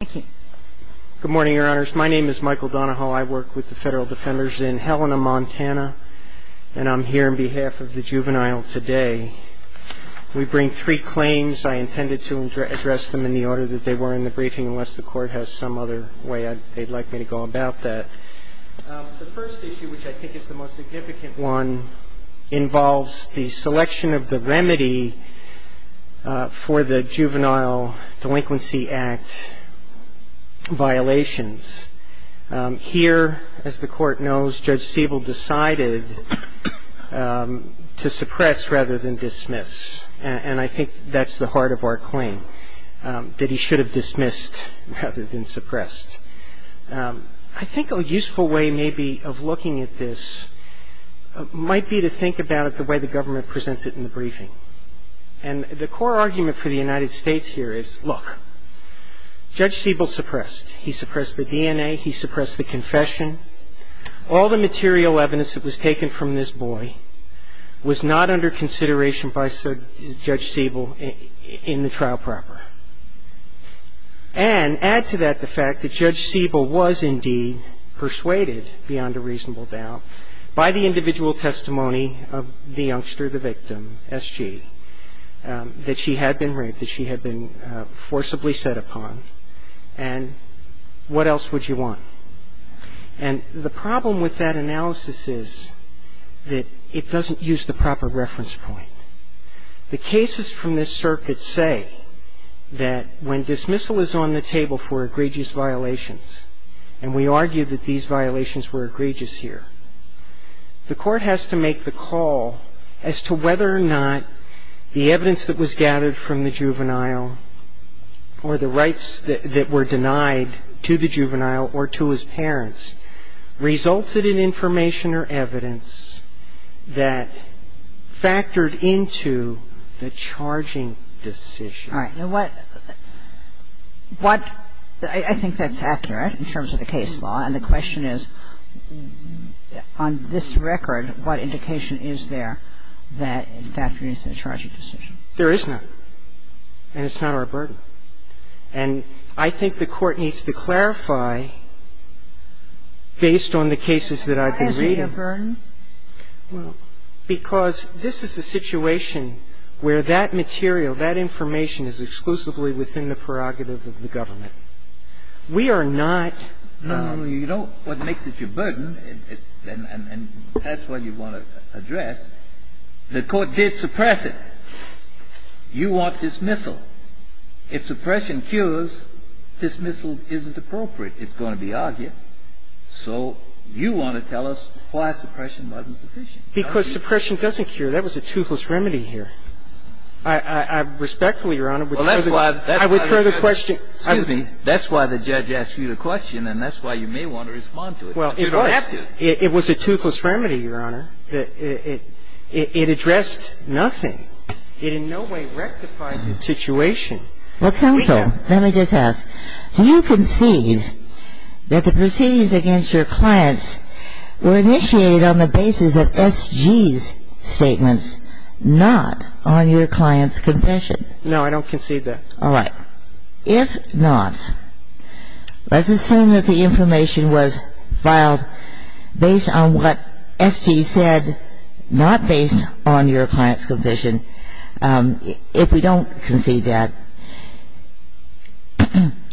Good morning, Your Honors. My name is Michael Donahoe. I work with the Federal Defenders in Helena, Montana, and I'm here on behalf of the Juvenile today. We bring three claims. I intended to address them in the order that they were in the briefing unless the Court has some other way they'd like me to go about that. The first issue, which I think is the most significant one, involves the selection of the remedy for the Juvenile Delinquency Act violations. Here, as the Court knows, Judge Siebel decided to suppress rather than dismiss, and I think that's the heart of our claim, that he should have dismissed rather than suppressed. I think a useful way maybe of looking at this might be to think about it the way the government presents it in the briefing. And the core argument for the United States here is, look, Judge Siebel suppressed. He suppressed the DNA. He suppressed the confession. All the material evidence that was taken from this boy was not under consideration by Judge Siebel in the trial proper. And add to that the fact that Judge Siebel was indeed persuaded, beyond a reasonable doubt, by the individual testimony of the youngster, the victim, S.G., that she had been raped, that she had been forcibly set upon, and what else would you want? And the problem with that analysis is that it doesn't use the proper reference point. The cases from this circuit say that when dismissal is on the table for egregious violations, and we argue that these violations were egregious here, the Court has to make the call as to whether or not the evidence that was gathered from the juvenile or the rights that were denied to the juvenile or to his parents resulted in information or evidence that factored into the charging decision. All right. Now, what – what – I think that's accurate in terms of the case law, and the question is, on this record, what indication is there that it factored into the charging decision? There is none. And it's not our burden. And I think the Court needs to clarify, based on the cases that I've been reading – Why is it your burden? Because this is a situation where that material, that information is exclusively within the prerogative of the government. We are not – No, no, no. You don't – what makes it your burden, and that's what you want to address, the Court did suppress it. You want dismissal. If suppression cures, dismissal isn't appropriate. It's going to be argued. So you want to tell us why suppression wasn't sufficient, don't you? Because suppression doesn't cure. That was a toothless remedy here. I respectfully, Your Honor, would further – Well, that's why – I would further question – Excuse me. That's why the judge asked you the question, and that's why you may want to respond to it. But you don't have to. Well, it was. It was a toothless remedy, Your Honor. It addressed nothing. It in no way rectified the situation. Well, counsel, let me just ask. Do you concede that the proceedings against your client were initiated on the basis of SG's statements, not on your client's confession? No, I don't concede that. All right. If not, let's assume that the information was filed based on what SG said, not based on your client's confession. If we don't concede that,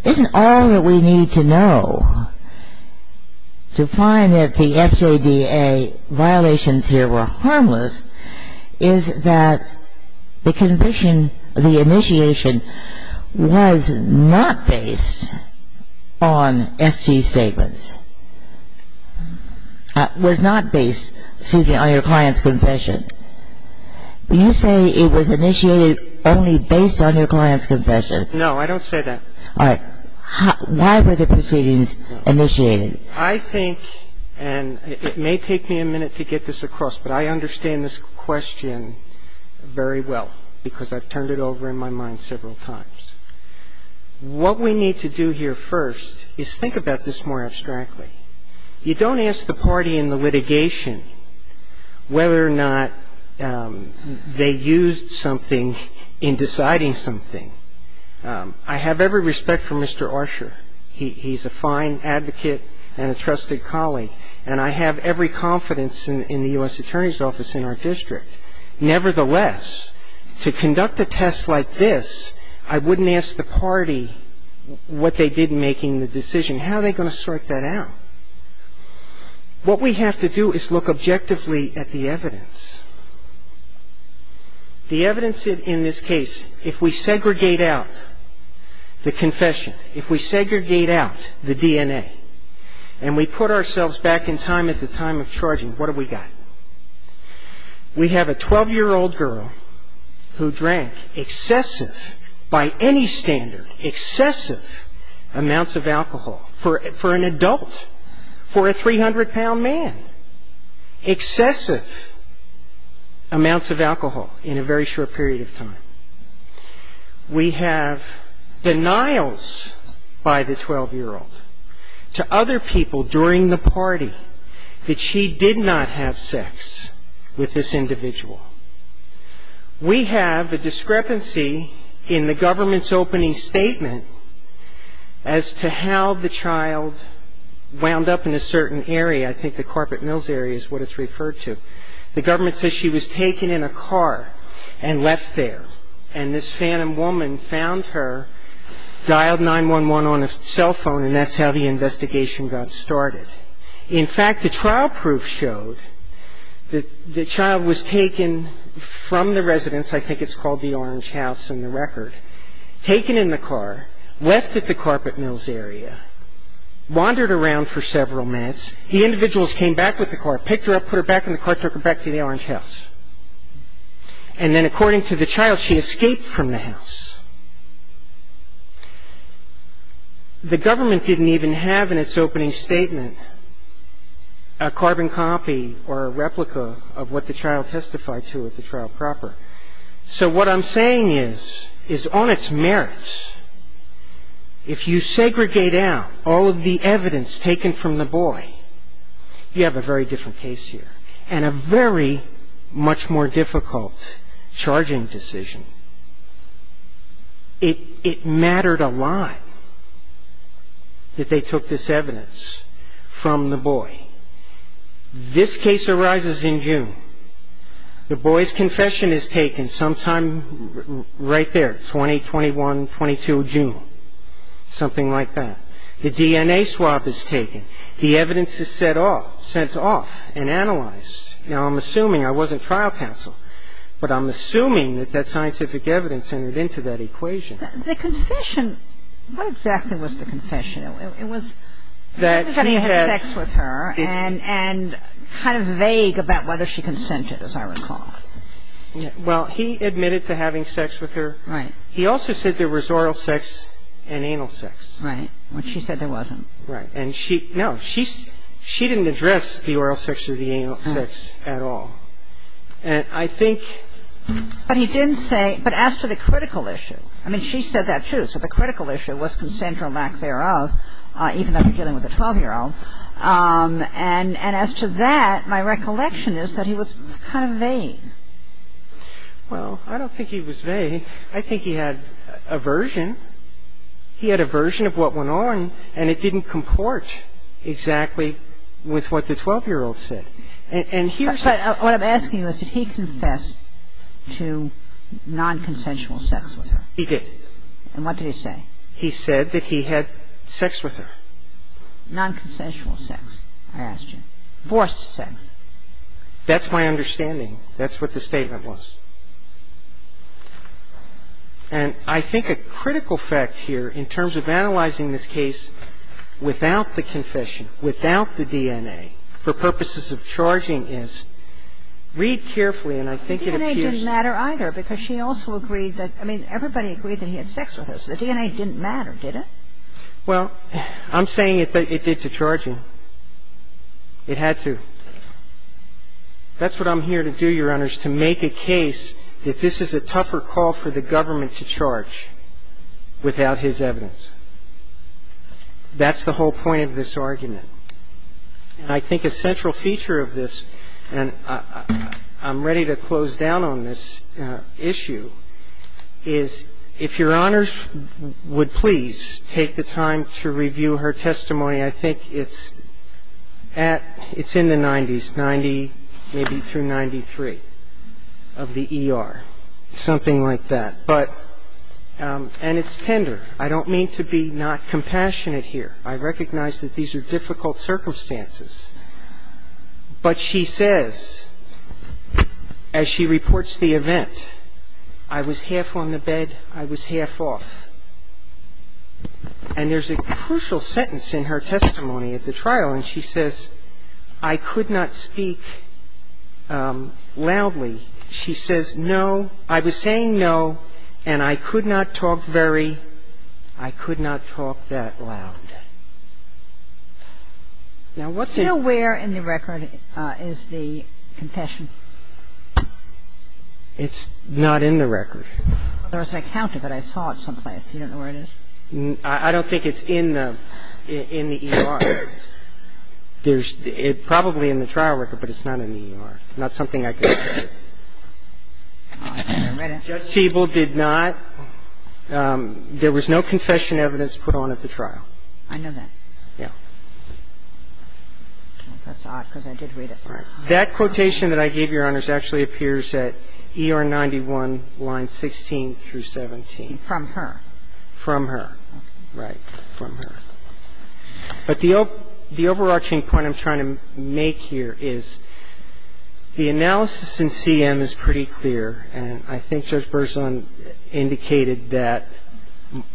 isn't all that we need to know to find that the FJDA violations here were harmless is that the conviction, the initiation was not based on SG's statements, was not based, excuse me, on your client's confession. You say it was initiated only based on your client's confession. No, I don't say that. All right. Why were the proceedings initiated? I think, and it may take me a minute to get this across, but I understand this question very well, because I've turned it over in my mind several times. What we need to do here first is think about this more abstractly. You don't ask the party in the litigation whether or not they used something in deciding something. I have every respect for Mr. Archer. He's a fine advocate and a trusted colleague, and I have every confidence in the U.S. Attorney's Office in our district. Nevertheless, to conduct a test like this, I wouldn't ask the party what they did in making the decision. How are they going to sort that out? What we have to do is look objectively at the evidence. The evidence in this case, if we segregate out the confession, if we segregate out the DNA, and we put ourselves back in time at the time of charging, what have we got? We have a 12-year-old girl who drank excessive, by any standard, excessive amounts of alcohol for an adult, for a 300-pound man. Excessive amounts of alcohol in a very short period of time. We have denials by the 12-year-old to other people during the party that she did not have sex with this individual. We have a discrepancy in the government's opening statement as to how the child wound up in a certain area. I think the Carpet Mills area is what it's referred to. The government says she was taken in a car and left there. And this phantom woman found her, dialed 911 on a cell phone, and that's how the investigation got started. In fact, the trial proof showed that the child was taken from the residence, I think it's called the Orange House in the record, taken in the car, left at the Carpet Mills area, wandered around for several minutes, the individuals came back with the car, picked her up, put her back in the car, took her back to the Orange House. And then according to the child, she escaped from the house. The government didn't even have in its opening statement a carbon copy or a replica of what the child testified to at the trial proper. So what I'm saying is, on its merits, if you segregate out all of the evidence taken from the boy, you have a very different case here and a very much more difficult charging decision. It mattered a lot that they took this evidence from the boy. This case arises in June. The boy's confession is taken sometime right there, 20, 21, 22 June, something like that. The DNA swab is taken. The evidence is sent off and analyzed. Now, I'm assuming, I wasn't trial counsel, but I'm assuming that that scientific evidence entered into that equation. The confession, what exactly was the confession? It was that he had sex with her and kind of vague about whether she consented, as I recall. Well, he admitted to having sex with her. Right. He also said there was oral sex and anal sex. Right. Which she said there wasn't. Right. And she, no, she didn't address the oral sex or the anal sex at all. And I think he didn't say, but as to the critical issue, I mean, she said that too. So the critical issue was consent or lack thereof, even though he was dealing with a 12-year-old. And as to that, my recollection is that he was kind of vain. Well, I don't think he was vain. I think he had aversion. He had aversion of what went on, and it didn't comport exactly with what the 12-year-old said. And here's the thing. What I'm asking is, did he confess to nonconsensual sex with her? He did. And what did he say? He said that he had sex with her. Nonconsensual sex, I asked you. Forced sex. That's my understanding. That's what the statement was. And I think a critical fact here in terms of analyzing this case without the confession, without the DNA, for purposes of charging is, read carefully, and I think it appears that the DNA didn't matter either because she also agreed that, I mean, everybody agreed that he had sex with her, so the DNA didn't matter, did it? Well, I'm saying it did to charge him. It had to. That's what I'm here to do, Your Honors, to make a case that this is a tougher call for the government to charge without his evidence. That's the whole point of this argument. And I think a central feature of this, and I'm ready to close down on this issue, is if Your Honors would please take the time to review her testimony. I think it's in the 90s, 90 maybe through 93, of the ER, something like that. And it's tender. I don't mean to be not compassionate here. I recognize that these are difficult circumstances. But she says, as she reports the event, I was half on the bed, I was half off. And there's a crucial sentence in her testimony at the trial, and she says, I could not speak loudly. She says, no, I was saying no, and I could not talk very, I could not talk that loud. Now, what's in it? Do you know where in the record is the confession? It's not in the record. There was an account of it. I saw it someplace. You don't know where it is? I don't think it's in the ER. It's not in the ER. It's probably in the trial record, but it's not in the ER. Not something I can say. Judge Siebel did not. There was no confession evidence put on at the trial. I know that. Yeah. That's odd, because I did read it. That quotation that I gave Your Honors actually appears at ER 91, lines 16 through 17. From her. From her. Right. From her. But the overarching point I'm trying to make here is the analysis in CM is pretty clear, and I think Judge Berzon indicated that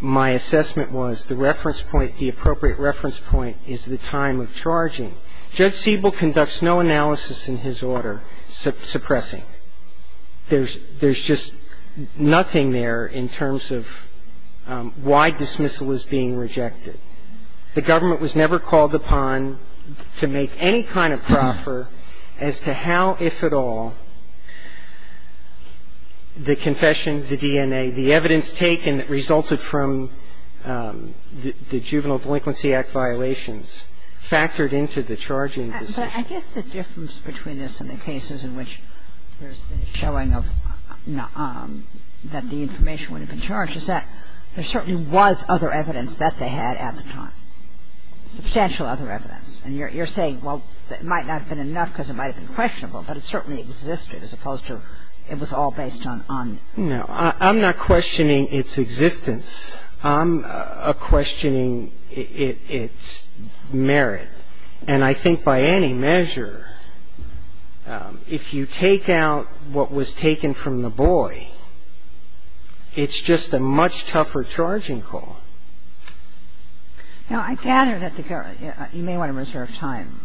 my assessment was the reference point, the appropriate reference point is the time of charging. Judge Siebel conducts no analysis in his order suppressing. There's just nothing there in terms of why dismissal is being rejected. The government was never called upon to make any kind of proffer as to how, if at all, the confession, the DNA, the evidence taken that resulted from the Juvenile Delinquency Act violations, factored into the charging decision. I guess the difference between this and the cases in which there's been a showing of, that the information would have been charged is that there certainly was other evidence that they had at the time. Substantial other evidence. And you're saying, well, it might not have been enough because it might have been questionable, but it certainly existed as opposed to it was all based on. No. I'm not questioning its existence. I'm questioning its merit. And I think by any measure, if you take out what was taken from the boy, it's just a much tougher charging call. Now, I gather that the government, you may want to reserve time.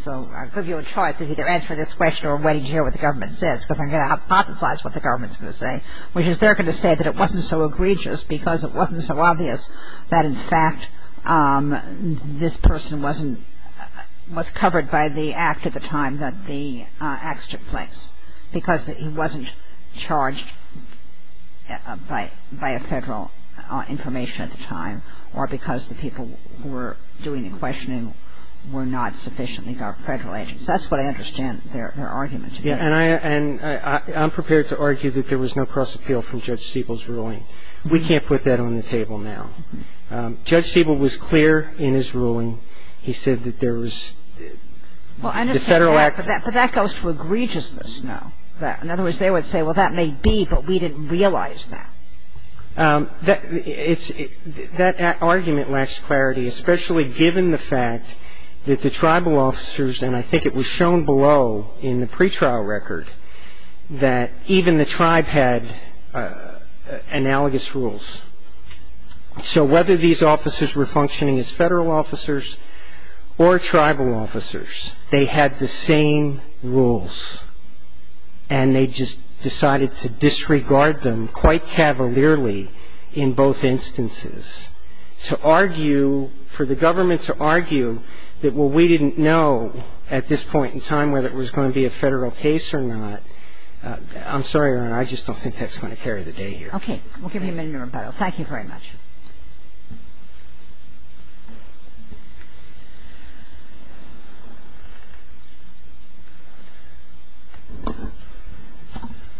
So I'll give you a choice of either answering this question or waiting to hear what the government says because I'm going to hypothesize what the government's going to say, which is they're going to say that it wasn't so egregious because it wasn't so obvious that, in fact, this person wasn't, was covered by the act at the time that the acts took place because he wasn't charged by a Federal information at the time or because the people who were doing the questioning were not sufficiently Federal agents. That's what I understand their argument to be. And I'm prepared to argue that there was no cross-appeal from Judge Siebel's ruling. We can't put that on the table now. Judge Siebel was clear in his ruling. He said that there was the Federal act. Well, I understand that, but that goes to egregiousness now. In other words, they would say, well, that may be, but we didn't realize that. That argument lacks clarity, especially given the fact that the tribal officers, and I think it was shown below in the pretrial record, that even the tribe had analogous rules. So whether these officers were functioning as Federal officers or tribal officers, they had the same rules, and they just decided to disregard them quite cavalierly in both instances to argue, for the government to argue that, well, we didn't know at this point in time whether it was going to be a Federal case or not. I'm sorry, Your Honor, I just don't think that's going to carry the day here. Okay. We'll give you a minute, Mr. Barrow. Thank you very much.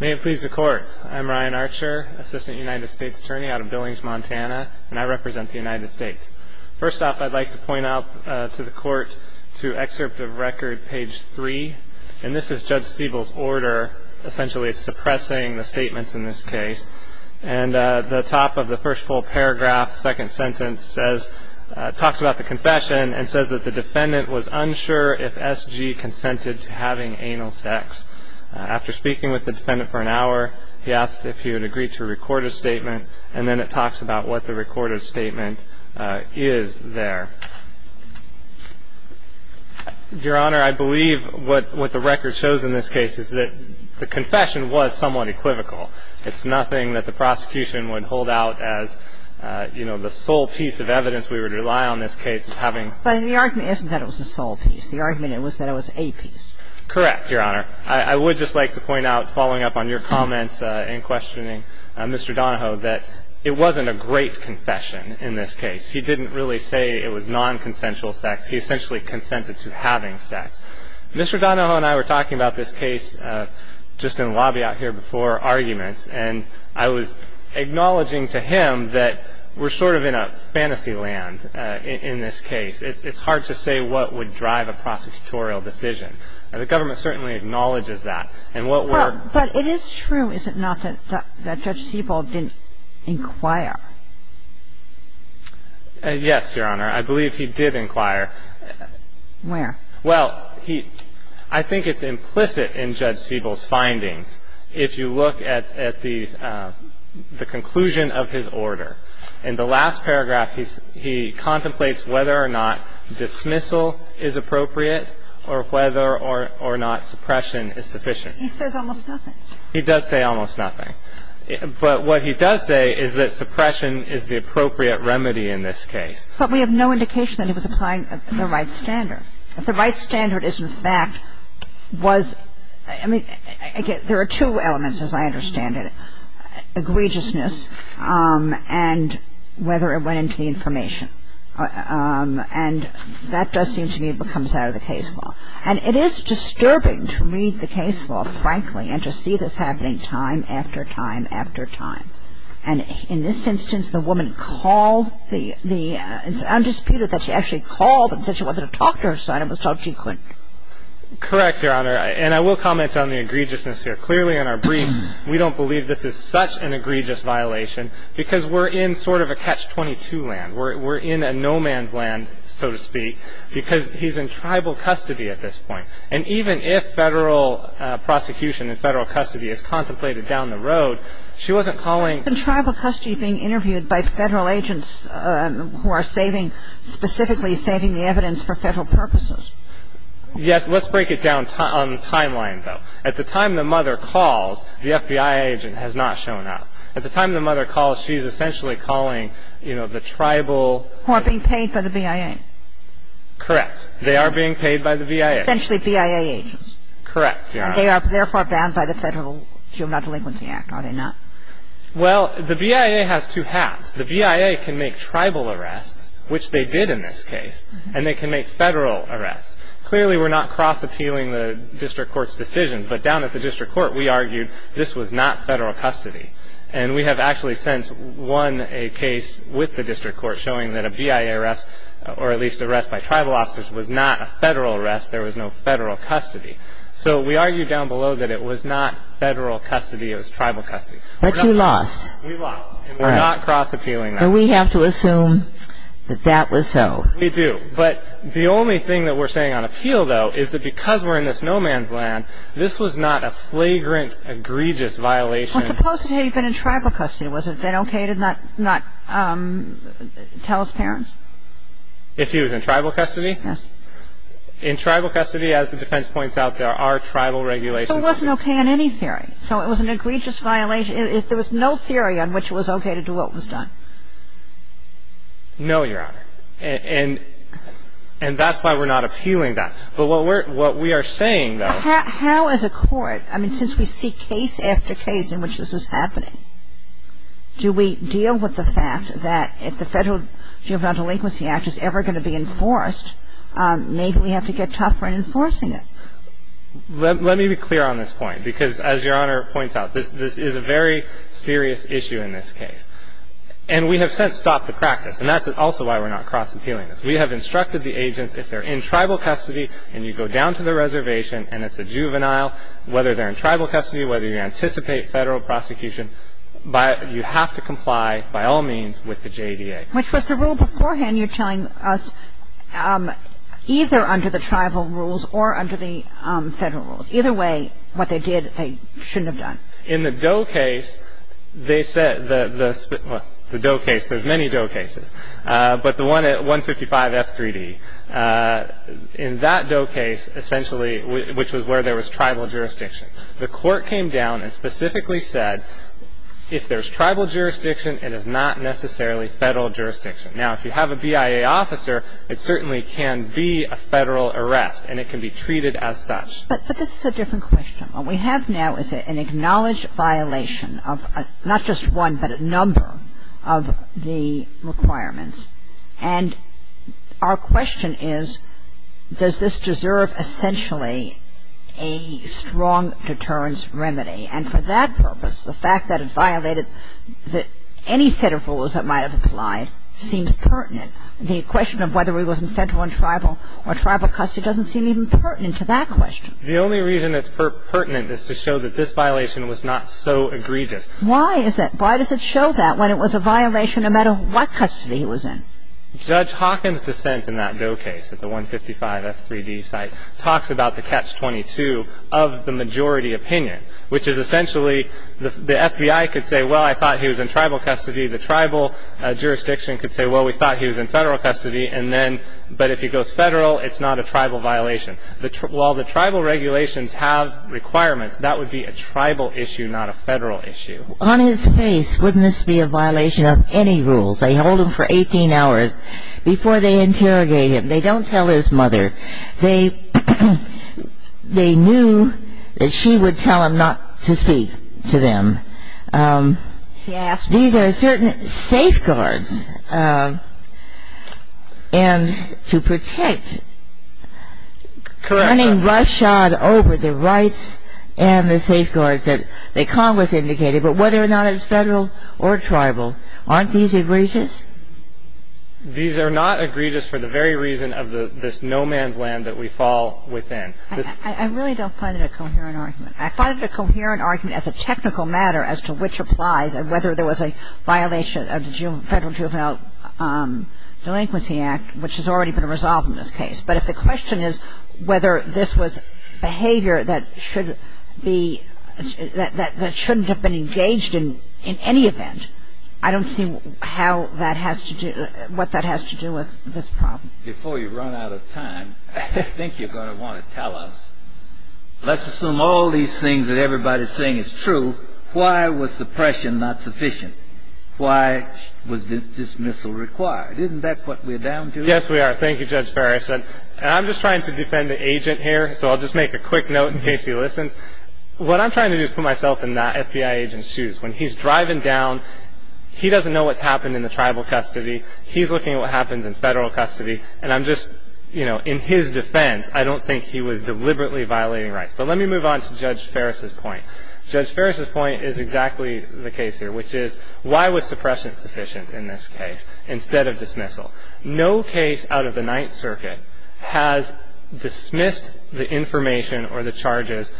May it please the Court. I'm Ryan Archer, Assistant United States Attorney out of Billings, Montana, and I represent the United States. First off, I'd like to point out to the Court, to excerpt of record, page 3, and this is Judge Siebel's order, essentially suppressing the statements in this case. And the top of the first full paragraph, second sentence, talks about the confession and says that the defendant was unsure if S.G. consented to having anal sex. After speaking with the defendant for an hour, he asked if he would agree to record a statement, and then it talks about what the recorded statement is there. Your Honor, I believe what the record shows in this case is that the confession was somewhat equivocal. It's nothing that the prosecution would hold out as, you know, the sole piece of evidence we would rely on this case as having. But the argument isn't that it was the sole piece. The argument was that it was a piece. Correct, Your Honor. I would just like to point out, following up on your comments in questioning Mr. Donahoe, that it wasn't a great confession in this case. He didn't really say it was nonconsensual sex. He essentially consented to having sex. Mr. Donahoe and I were talking about this case just in the lobby out here before arguments, and I was acknowledging to him that we're sort of in a fantasy land in this case. It's hard to say what would drive a prosecutorial decision. The government certainly acknowledges that. And what we're --. But it is true, is it not, that Judge Siebel didn't inquire? Yes, Your Honor. I believe he did inquire. Where? Well, I think it's implicit in Judge Siebel's findings if you look at the conclusion of his order. In the last paragraph, he contemplates whether or not dismissal is appropriate or whether or not suppression is sufficient. He says almost nothing. He does say almost nothing. But what he does say is that suppression is the appropriate remedy in this case. But we have no indication that he was applying the right standard. If the right standard is, in fact, was --. I mean, there are two elements, as I understand it. Egregiousness and whether it went into the information. And that does seem to me comes out of the case law. And it is disturbing to read the case law, frankly, and to see this happening time after time after time. And in this instance, the woman called the --. It's undisputed that she actually called and said she wanted to talk to her son. It was told she couldn't. Correct, Your Honor. And I will comment on the egregiousness here. Clearly, in our brief, we don't believe this is such an egregious violation because we're in sort of a catch-22 land. We're in a no-man's land, so to speak, because he's in tribal custody at this point. And even if federal prosecution and federal custody is contemplated down the road, she wasn't calling. He's in tribal custody being interviewed by federal agents who are saving, specifically saving the evidence for federal purposes. Yes. Let's break it down on the timeline, though. At the time the mother calls, the FBI agent has not shown up. At the time the mother calls, she's essentially calling, you know, the tribal ---- Who are being paid by the BIA. Correct. They are being paid by the BIA. Essentially BIA agents. Correct, Your Honor. And they are therefore bound by the Federal Juvenile Delinquency Act, are they not? Well, the BIA has two hats. The BIA can make tribal arrests, which they did in this case, and they can make federal arrests. Clearly, we're not cross-appealing the district court's decision, but down at the district court, we argued this was not federal custody. And we have actually since won a case with the district court showing that a BIA arrest, or at least arrest by tribal officers, was not a federal arrest. There was no federal custody. So we argued down below that it was not federal custody, it was tribal custody. But you lost. We lost. And we're not cross-appealing that. So we have to assume that that was so. We do. But the only thing that we're saying on appeal, though, is that because we're in this no-man's land, this was not a flagrant, egregious violation. Well, suppose it had been in tribal custody. Was it then okay to not tell his parents? If he was in tribal custody? Yes. In tribal custody, as the defense points out, there are tribal regulations. So it wasn't okay in any theory. So it was an egregious violation. There was no theory on which it was okay to do what was done. No, Your Honor. And that's why we're not appealing that. But what we are saying, though. How as a court, I mean, since we see case after case in which this is happening, do we deal with the fact that if the Federal Juvenile Delinquency Act is ever going to be enforced, maybe we have to get tougher in enforcing it? Let me be clear on this point, because as Your Honor points out, this is a very serious issue in this case. And we have since stopped the practice. And that's also why we're not cross-appealing this. We have instructed the agents, if they're in tribal custody and you go down to the reservation and it's a juvenile, whether they're in tribal custody, whether you anticipate federal prosecution, you have to comply by all means with the JDA. Which was the rule beforehand you're telling us, either under the tribal rules or under the federal rules. Either way, what they did, they shouldn't have done. In the Doe case, they said the Doe case, there's many Doe cases. But the one at 155 F3D. In that Doe case, essentially, which was where there was tribal jurisdiction, the court came down and specifically said if there's tribal jurisdiction, it is not necessarily federal jurisdiction. Now, if you have a BIA officer, it certainly can be a federal arrest, and it can be treated as such. But this is a different question. What we have now is an acknowledged violation of not just one, but a number of the requirements. And our question is, does this deserve essentially a strong deterrence remedy? And for that purpose, the fact that it violated any set of rules that might have applied seems pertinent. The question of whether he was in federal and tribal or tribal custody doesn't seem even pertinent to that question. The only reason it's pertinent is to show that this violation was not so egregious. Why is that? Why is that? When it was a violation, no matter what custody he was in. Judge Hawkins' dissent in that Doe case at the 155 F3D site talks about the catch 22 of the majority opinion, which is essentially the FBI could say, well, I thought he was in tribal custody. The tribal jurisdiction could say, well, we thought he was in federal custody. And then, but if he goes federal, it's not a tribal violation. While the tribal regulations have requirements, that would be a tribal issue, not a federal issue. On his face, wouldn't this be a violation of any rules? They hold him for 18 hours before they interrogate him. They don't tell his mother. They knew that she would tell him not to speak to them. These are certain safeguards. And to protect, running rush on over the rights and the safeguards that Congress indicated, but whether or not it's federal or tribal, aren't these egregious? These are not egregious for the very reason of this no man's land that we fall within. I really don't find it a coherent argument. I find it a coherent argument as a technical matter as to which applies and whether there was a violation of the Federal Juvenile Delinquency Act, which has already been resolved in this case. But if the question is whether this was behavior that should be, that shouldn't have been engaged in any event, I don't see how that has to do, what that has to do with this problem. Before you run out of time, I think you're going to want to tell us, let's assume all these things that everybody's saying is true. Why was suppression not sufficient? Why was dismissal required? Isn't that what we're down to? Yes, we are. Well, thank you, Judge Ferris. And I'm just trying to defend the agent here, so I'll just make a quick note in case he listens. What I'm trying to do is put myself in that FBI agent's shoes. When he's driving down, he doesn't know what's happened in the tribal custody. He's looking at what happened in federal custody, and I'm just, you know, in his defense, I don't think he was deliberately violating rights. But let me move on to Judge Ferris' point. Judge Ferris' point is exactly the case here, which is why was suppression sufficient in this case instead of dismissal? No case out of the Ninth Circuit has dismissed the information or the charges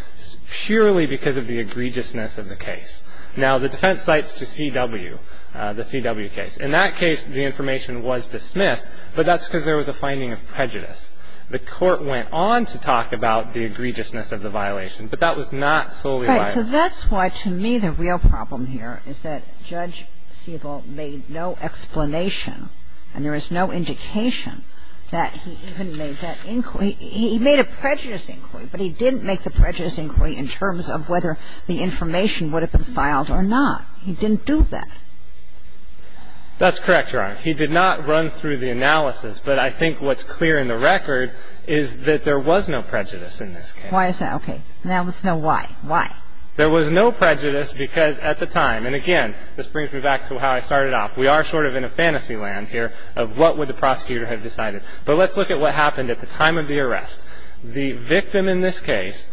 purely because of the egregiousness of the case. Now, the defense cites to C.W., the C.W. case. In that case, the information was dismissed, but that's because there was a finding of prejudice. The Court went on to talk about the egregiousness of the violation, but that was not solely violated. Right. So that's why, to me, the real problem here is that Judge Siebel made no explanation, and there is no indication that he even made that inquiry. He made a prejudice inquiry, but he didn't make the prejudice inquiry in terms of whether the information would have been filed or not. He didn't do that. That's correct, Your Honor. He did not run through the analysis, but I think what's clear in the record is that there was no prejudice in this case. Why is that? Okay. Now let's know why. Why? There was no prejudice because at the time, and again, this brings me back to how I started off. We are sort of in a fantasy land here of what would the prosecutor have decided. But let's look at what happened at the time of the arrest. The victim in this case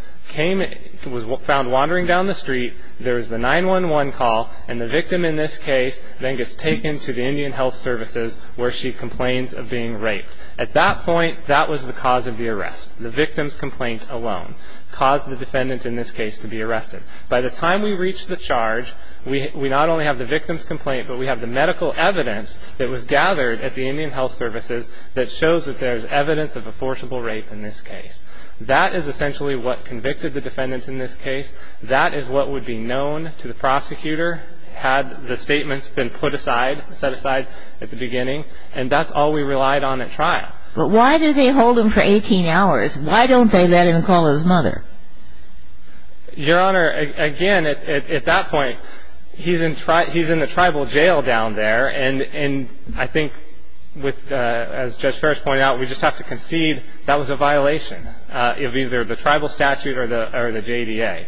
was found wandering down the street. There was the 911 call, and the victim in this case then gets taken to the Indian Health Services where she complains of being raped. At that point, that was the cause of the arrest. The victim's complaint alone caused the defendant in this case to be arrested. By the time we reach the charge, we not only have the victim's complaint, but we have the medical evidence that was gathered at the Indian Health Services that shows that there is evidence of a forcible rape in this case. That is essentially what convicted the defendant in this case. That is what would be known to the prosecutor had the statements been put aside, set aside at the beginning. And that's all we relied on at trial. But why do they hold him for 18 hours? Why don't they let him call his mother? Your Honor, again, at that point, he's in the tribal jail down there, and I think, as Judge Ferris pointed out, we just have to concede that was a violation of either the tribal statute or the JDA.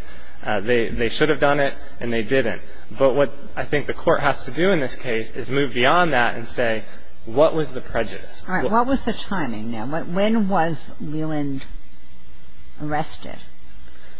They should have done it, and they didn't. But what I think the court has to do in this case is move beyond that and say, what was the prejudice? All right. What was the timing? Now, when was Leland arrested?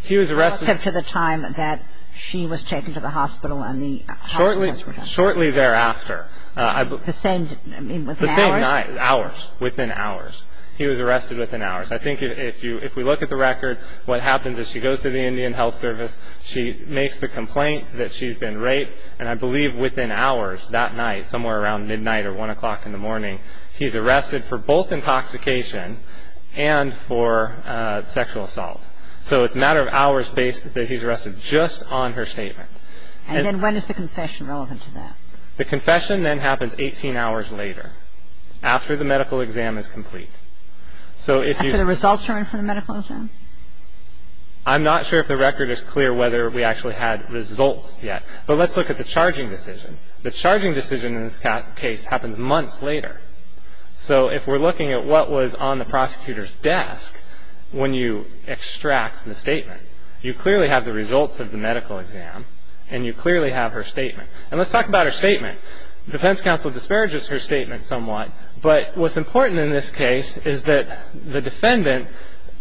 He was arrested to the time that she was taken to the hospital and the hospitals were done. Shortly thereafter. The same, I mean, within hours? The same night, hours, within hours. He was arrested within hours. I think if we look at the record, what happens is she goes to the Indian Health Service. She makes the complaint that she's been raped, and I believe within hours, that night, somewhere around midnight or 1 o'clock in the morning, he's arrested for both intoxication and for sexual assault. So it's a matter of hours that he's arrested just on her statement. And then when is the confession relevant to that? The confession then happens 18 hours later, after the medical exam is complete. After the results are in for the medical exam? I'm not sure if the record is clear whether we actually had results yet, but let's look at the charging decision. The charging decision in this case happens months later. So if we're looking at what was on the prosecutor's desk when you extract the statement, you clearly have the results of the medical exam, and you clearly have her statement. And let's talk about her statement. Defense counsel disparages her statement somewhat, but what's important in this case is that the defendant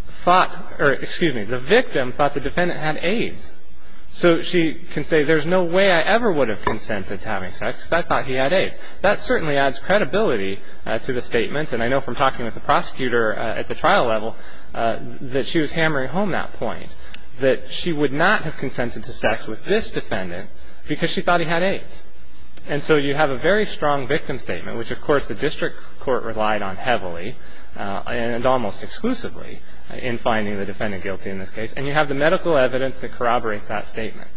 thought or, excuse me, the victim thought the defendant had AIDS. So she can say, there's no way I ever would have consented to having sex because I thought he had AIDS. That certainly adds credibility to the statement, and I know from talking with the prosecutor at the trial level that she was hammering home that point, that she would not have consented to sex with this defendant because she thought he had AIDS. And so you have a very strong victim statement, which, of course, the district court relied on heavily and almost exclusively in finding the defendant guilty in this case. And you have the medical evidence that corroborates that statement.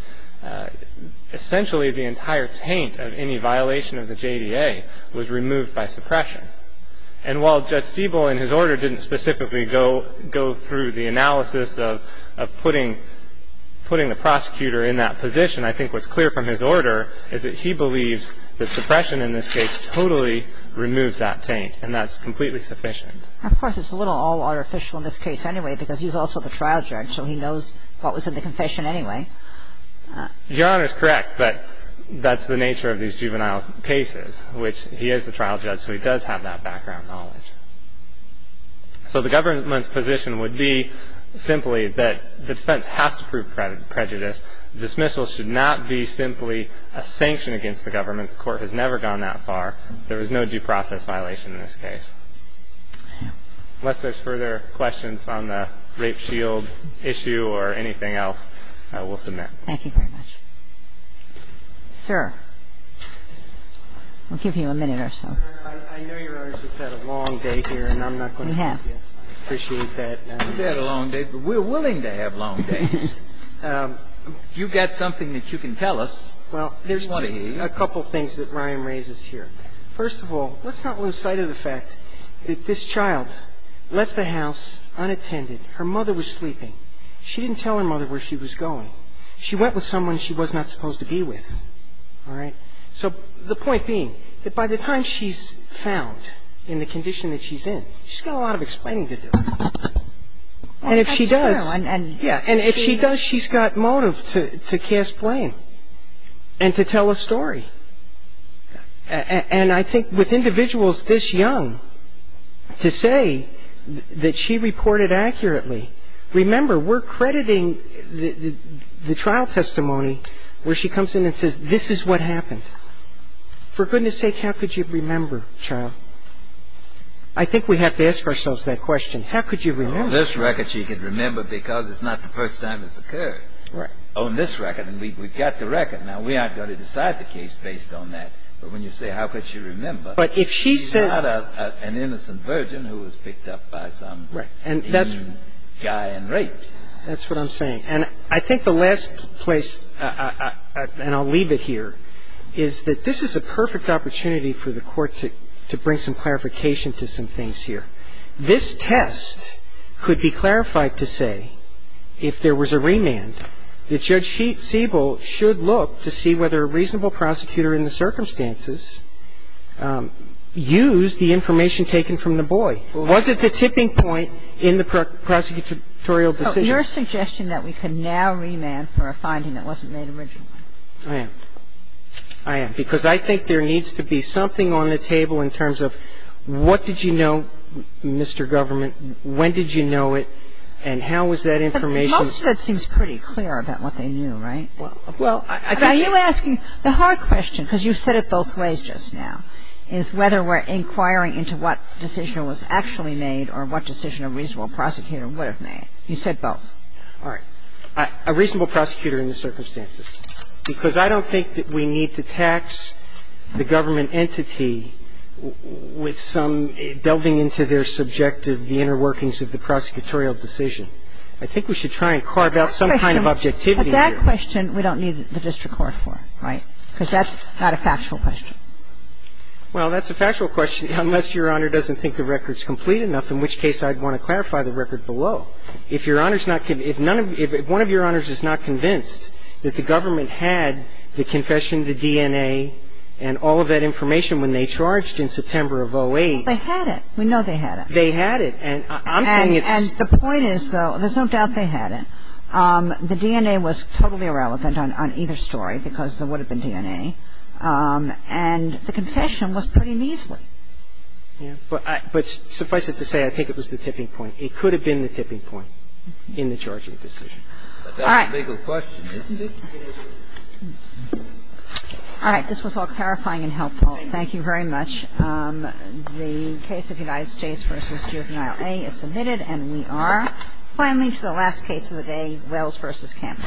Essentially, the entire taint of any violation of the JDA was removed by suppression. And while Judge Stiebel in his order didn't specifically go through the analysis of putting the prosecutor in that position, I think what's clear from his order is that he believes that suppression in this case totally removes that taint, and that's completely sufficient. Of course, it's a little all-artificial in this case anyway because he's also the trial judge, so he knows what was in the confession anyway. Your Honor is correct, but that's the nature of these juvenile cases, which he is the trial judge, so he does have that background knowledge. So the government's position would be simply that the defense has to prove prejudice. Dismissal should not be simply a sanction against the government. The court has never gone that far. There was no due process violation in this case. Unless there's further questions on the rape shield issue or anything else, we'll submit. Thank you very much. Sir. We'll give you a minute or so. I know Your Honor's just had a long day here, and I'm not going to make you appreciate that. We've had a long day, but we're willing to have long days. You've got something that you can tell us. Well, there's just a couple things that Ryan raises here. First of all, let's not lose sight of the fact that this child left the house unattended. Her mother was sleeping. She didn't tell her mother where she was going. She went with someone she was not supposed to be with. All right? So the point being that by the time she's found in the condition that she's in, she's got a lot of explaining to do. And if she does, she's got motive to cast blame and to tell a story. And I think with individuals this young, to say that she reported accurately. Remember, we're crediting the trial testimony where she comes in and says, this is what happened. For goodness sake, how could you remember, child? I think we have to ask ourselves that question. How could you remember? On this record, she could remember because it's not the first time it's occurred. Right. On this record. And we've got the record. Now, we aren't going to decide the case based on that. But when you say, how could she remember, she's not an innocent virgin who was picked up by some guy and raped. That's what I'm saying. And I think the last place, and I'll leave it here, is that this is a perfect opportunity for the Court to bring some clarification to some things here. This test could be clarified to say, if there was a remand, that Judge Sheet-Siebel should look to see whether a reasonable prosecutor in the circumstances used the information taken from the boy. Was it the tipping point in the prosecutorial decision? So your suggestion that we could now remand for a finding that wasn't made originally. I am. I am. Because I think there needs to be something on the table in terms of what did you know, Mr. Government, when did you know it, and how was that information ---- But most of it seems pretty clear about what they knew, right? Well, I think ---- Are you asking the hard question, because you said it both ways just now, is whether we're inquiring into what decision was actually made or what decision a reasonable prosecutor would have made. You said both. All right. Well, I don't think that we need to tax a reasonable prosecutor in the circumstances, because I don't think that we need to tax the government entity with some delving into their subjective, the inner workings of the prosecutorial decision. I think we should try and carve out some kind of objectivity here. But that question we don't need the district court for, right? Because that's not a factual question. Well, that's a factual question, unless Your Honor doesn't think the record's complete enough, in which case I'd want to clarify the record below. If Your Honor's not ---- if none of ---- if one of Your Honors is not convinced that the government had the confession, the DNA, and all of that information when they charged in September of 2008 ---- They had it. We know they had it. They had it. And I'm saying it's ---- And the point is, though, there's no doubt they had it. The DNA was totally irrelevant on either story, because there would have been DNA. And the confession was pretty measly. Yeah. But suffice it to say, I think it was the tipping point. It could have been the tipping point in the charging decision. All right. But that's a legal question, isn't it? All right. This was all clarifying and helpful. Thank you very much. The case of United States v. Juvenile A is submitted. And we are finally to the last case of the day, Wells v. Campbell.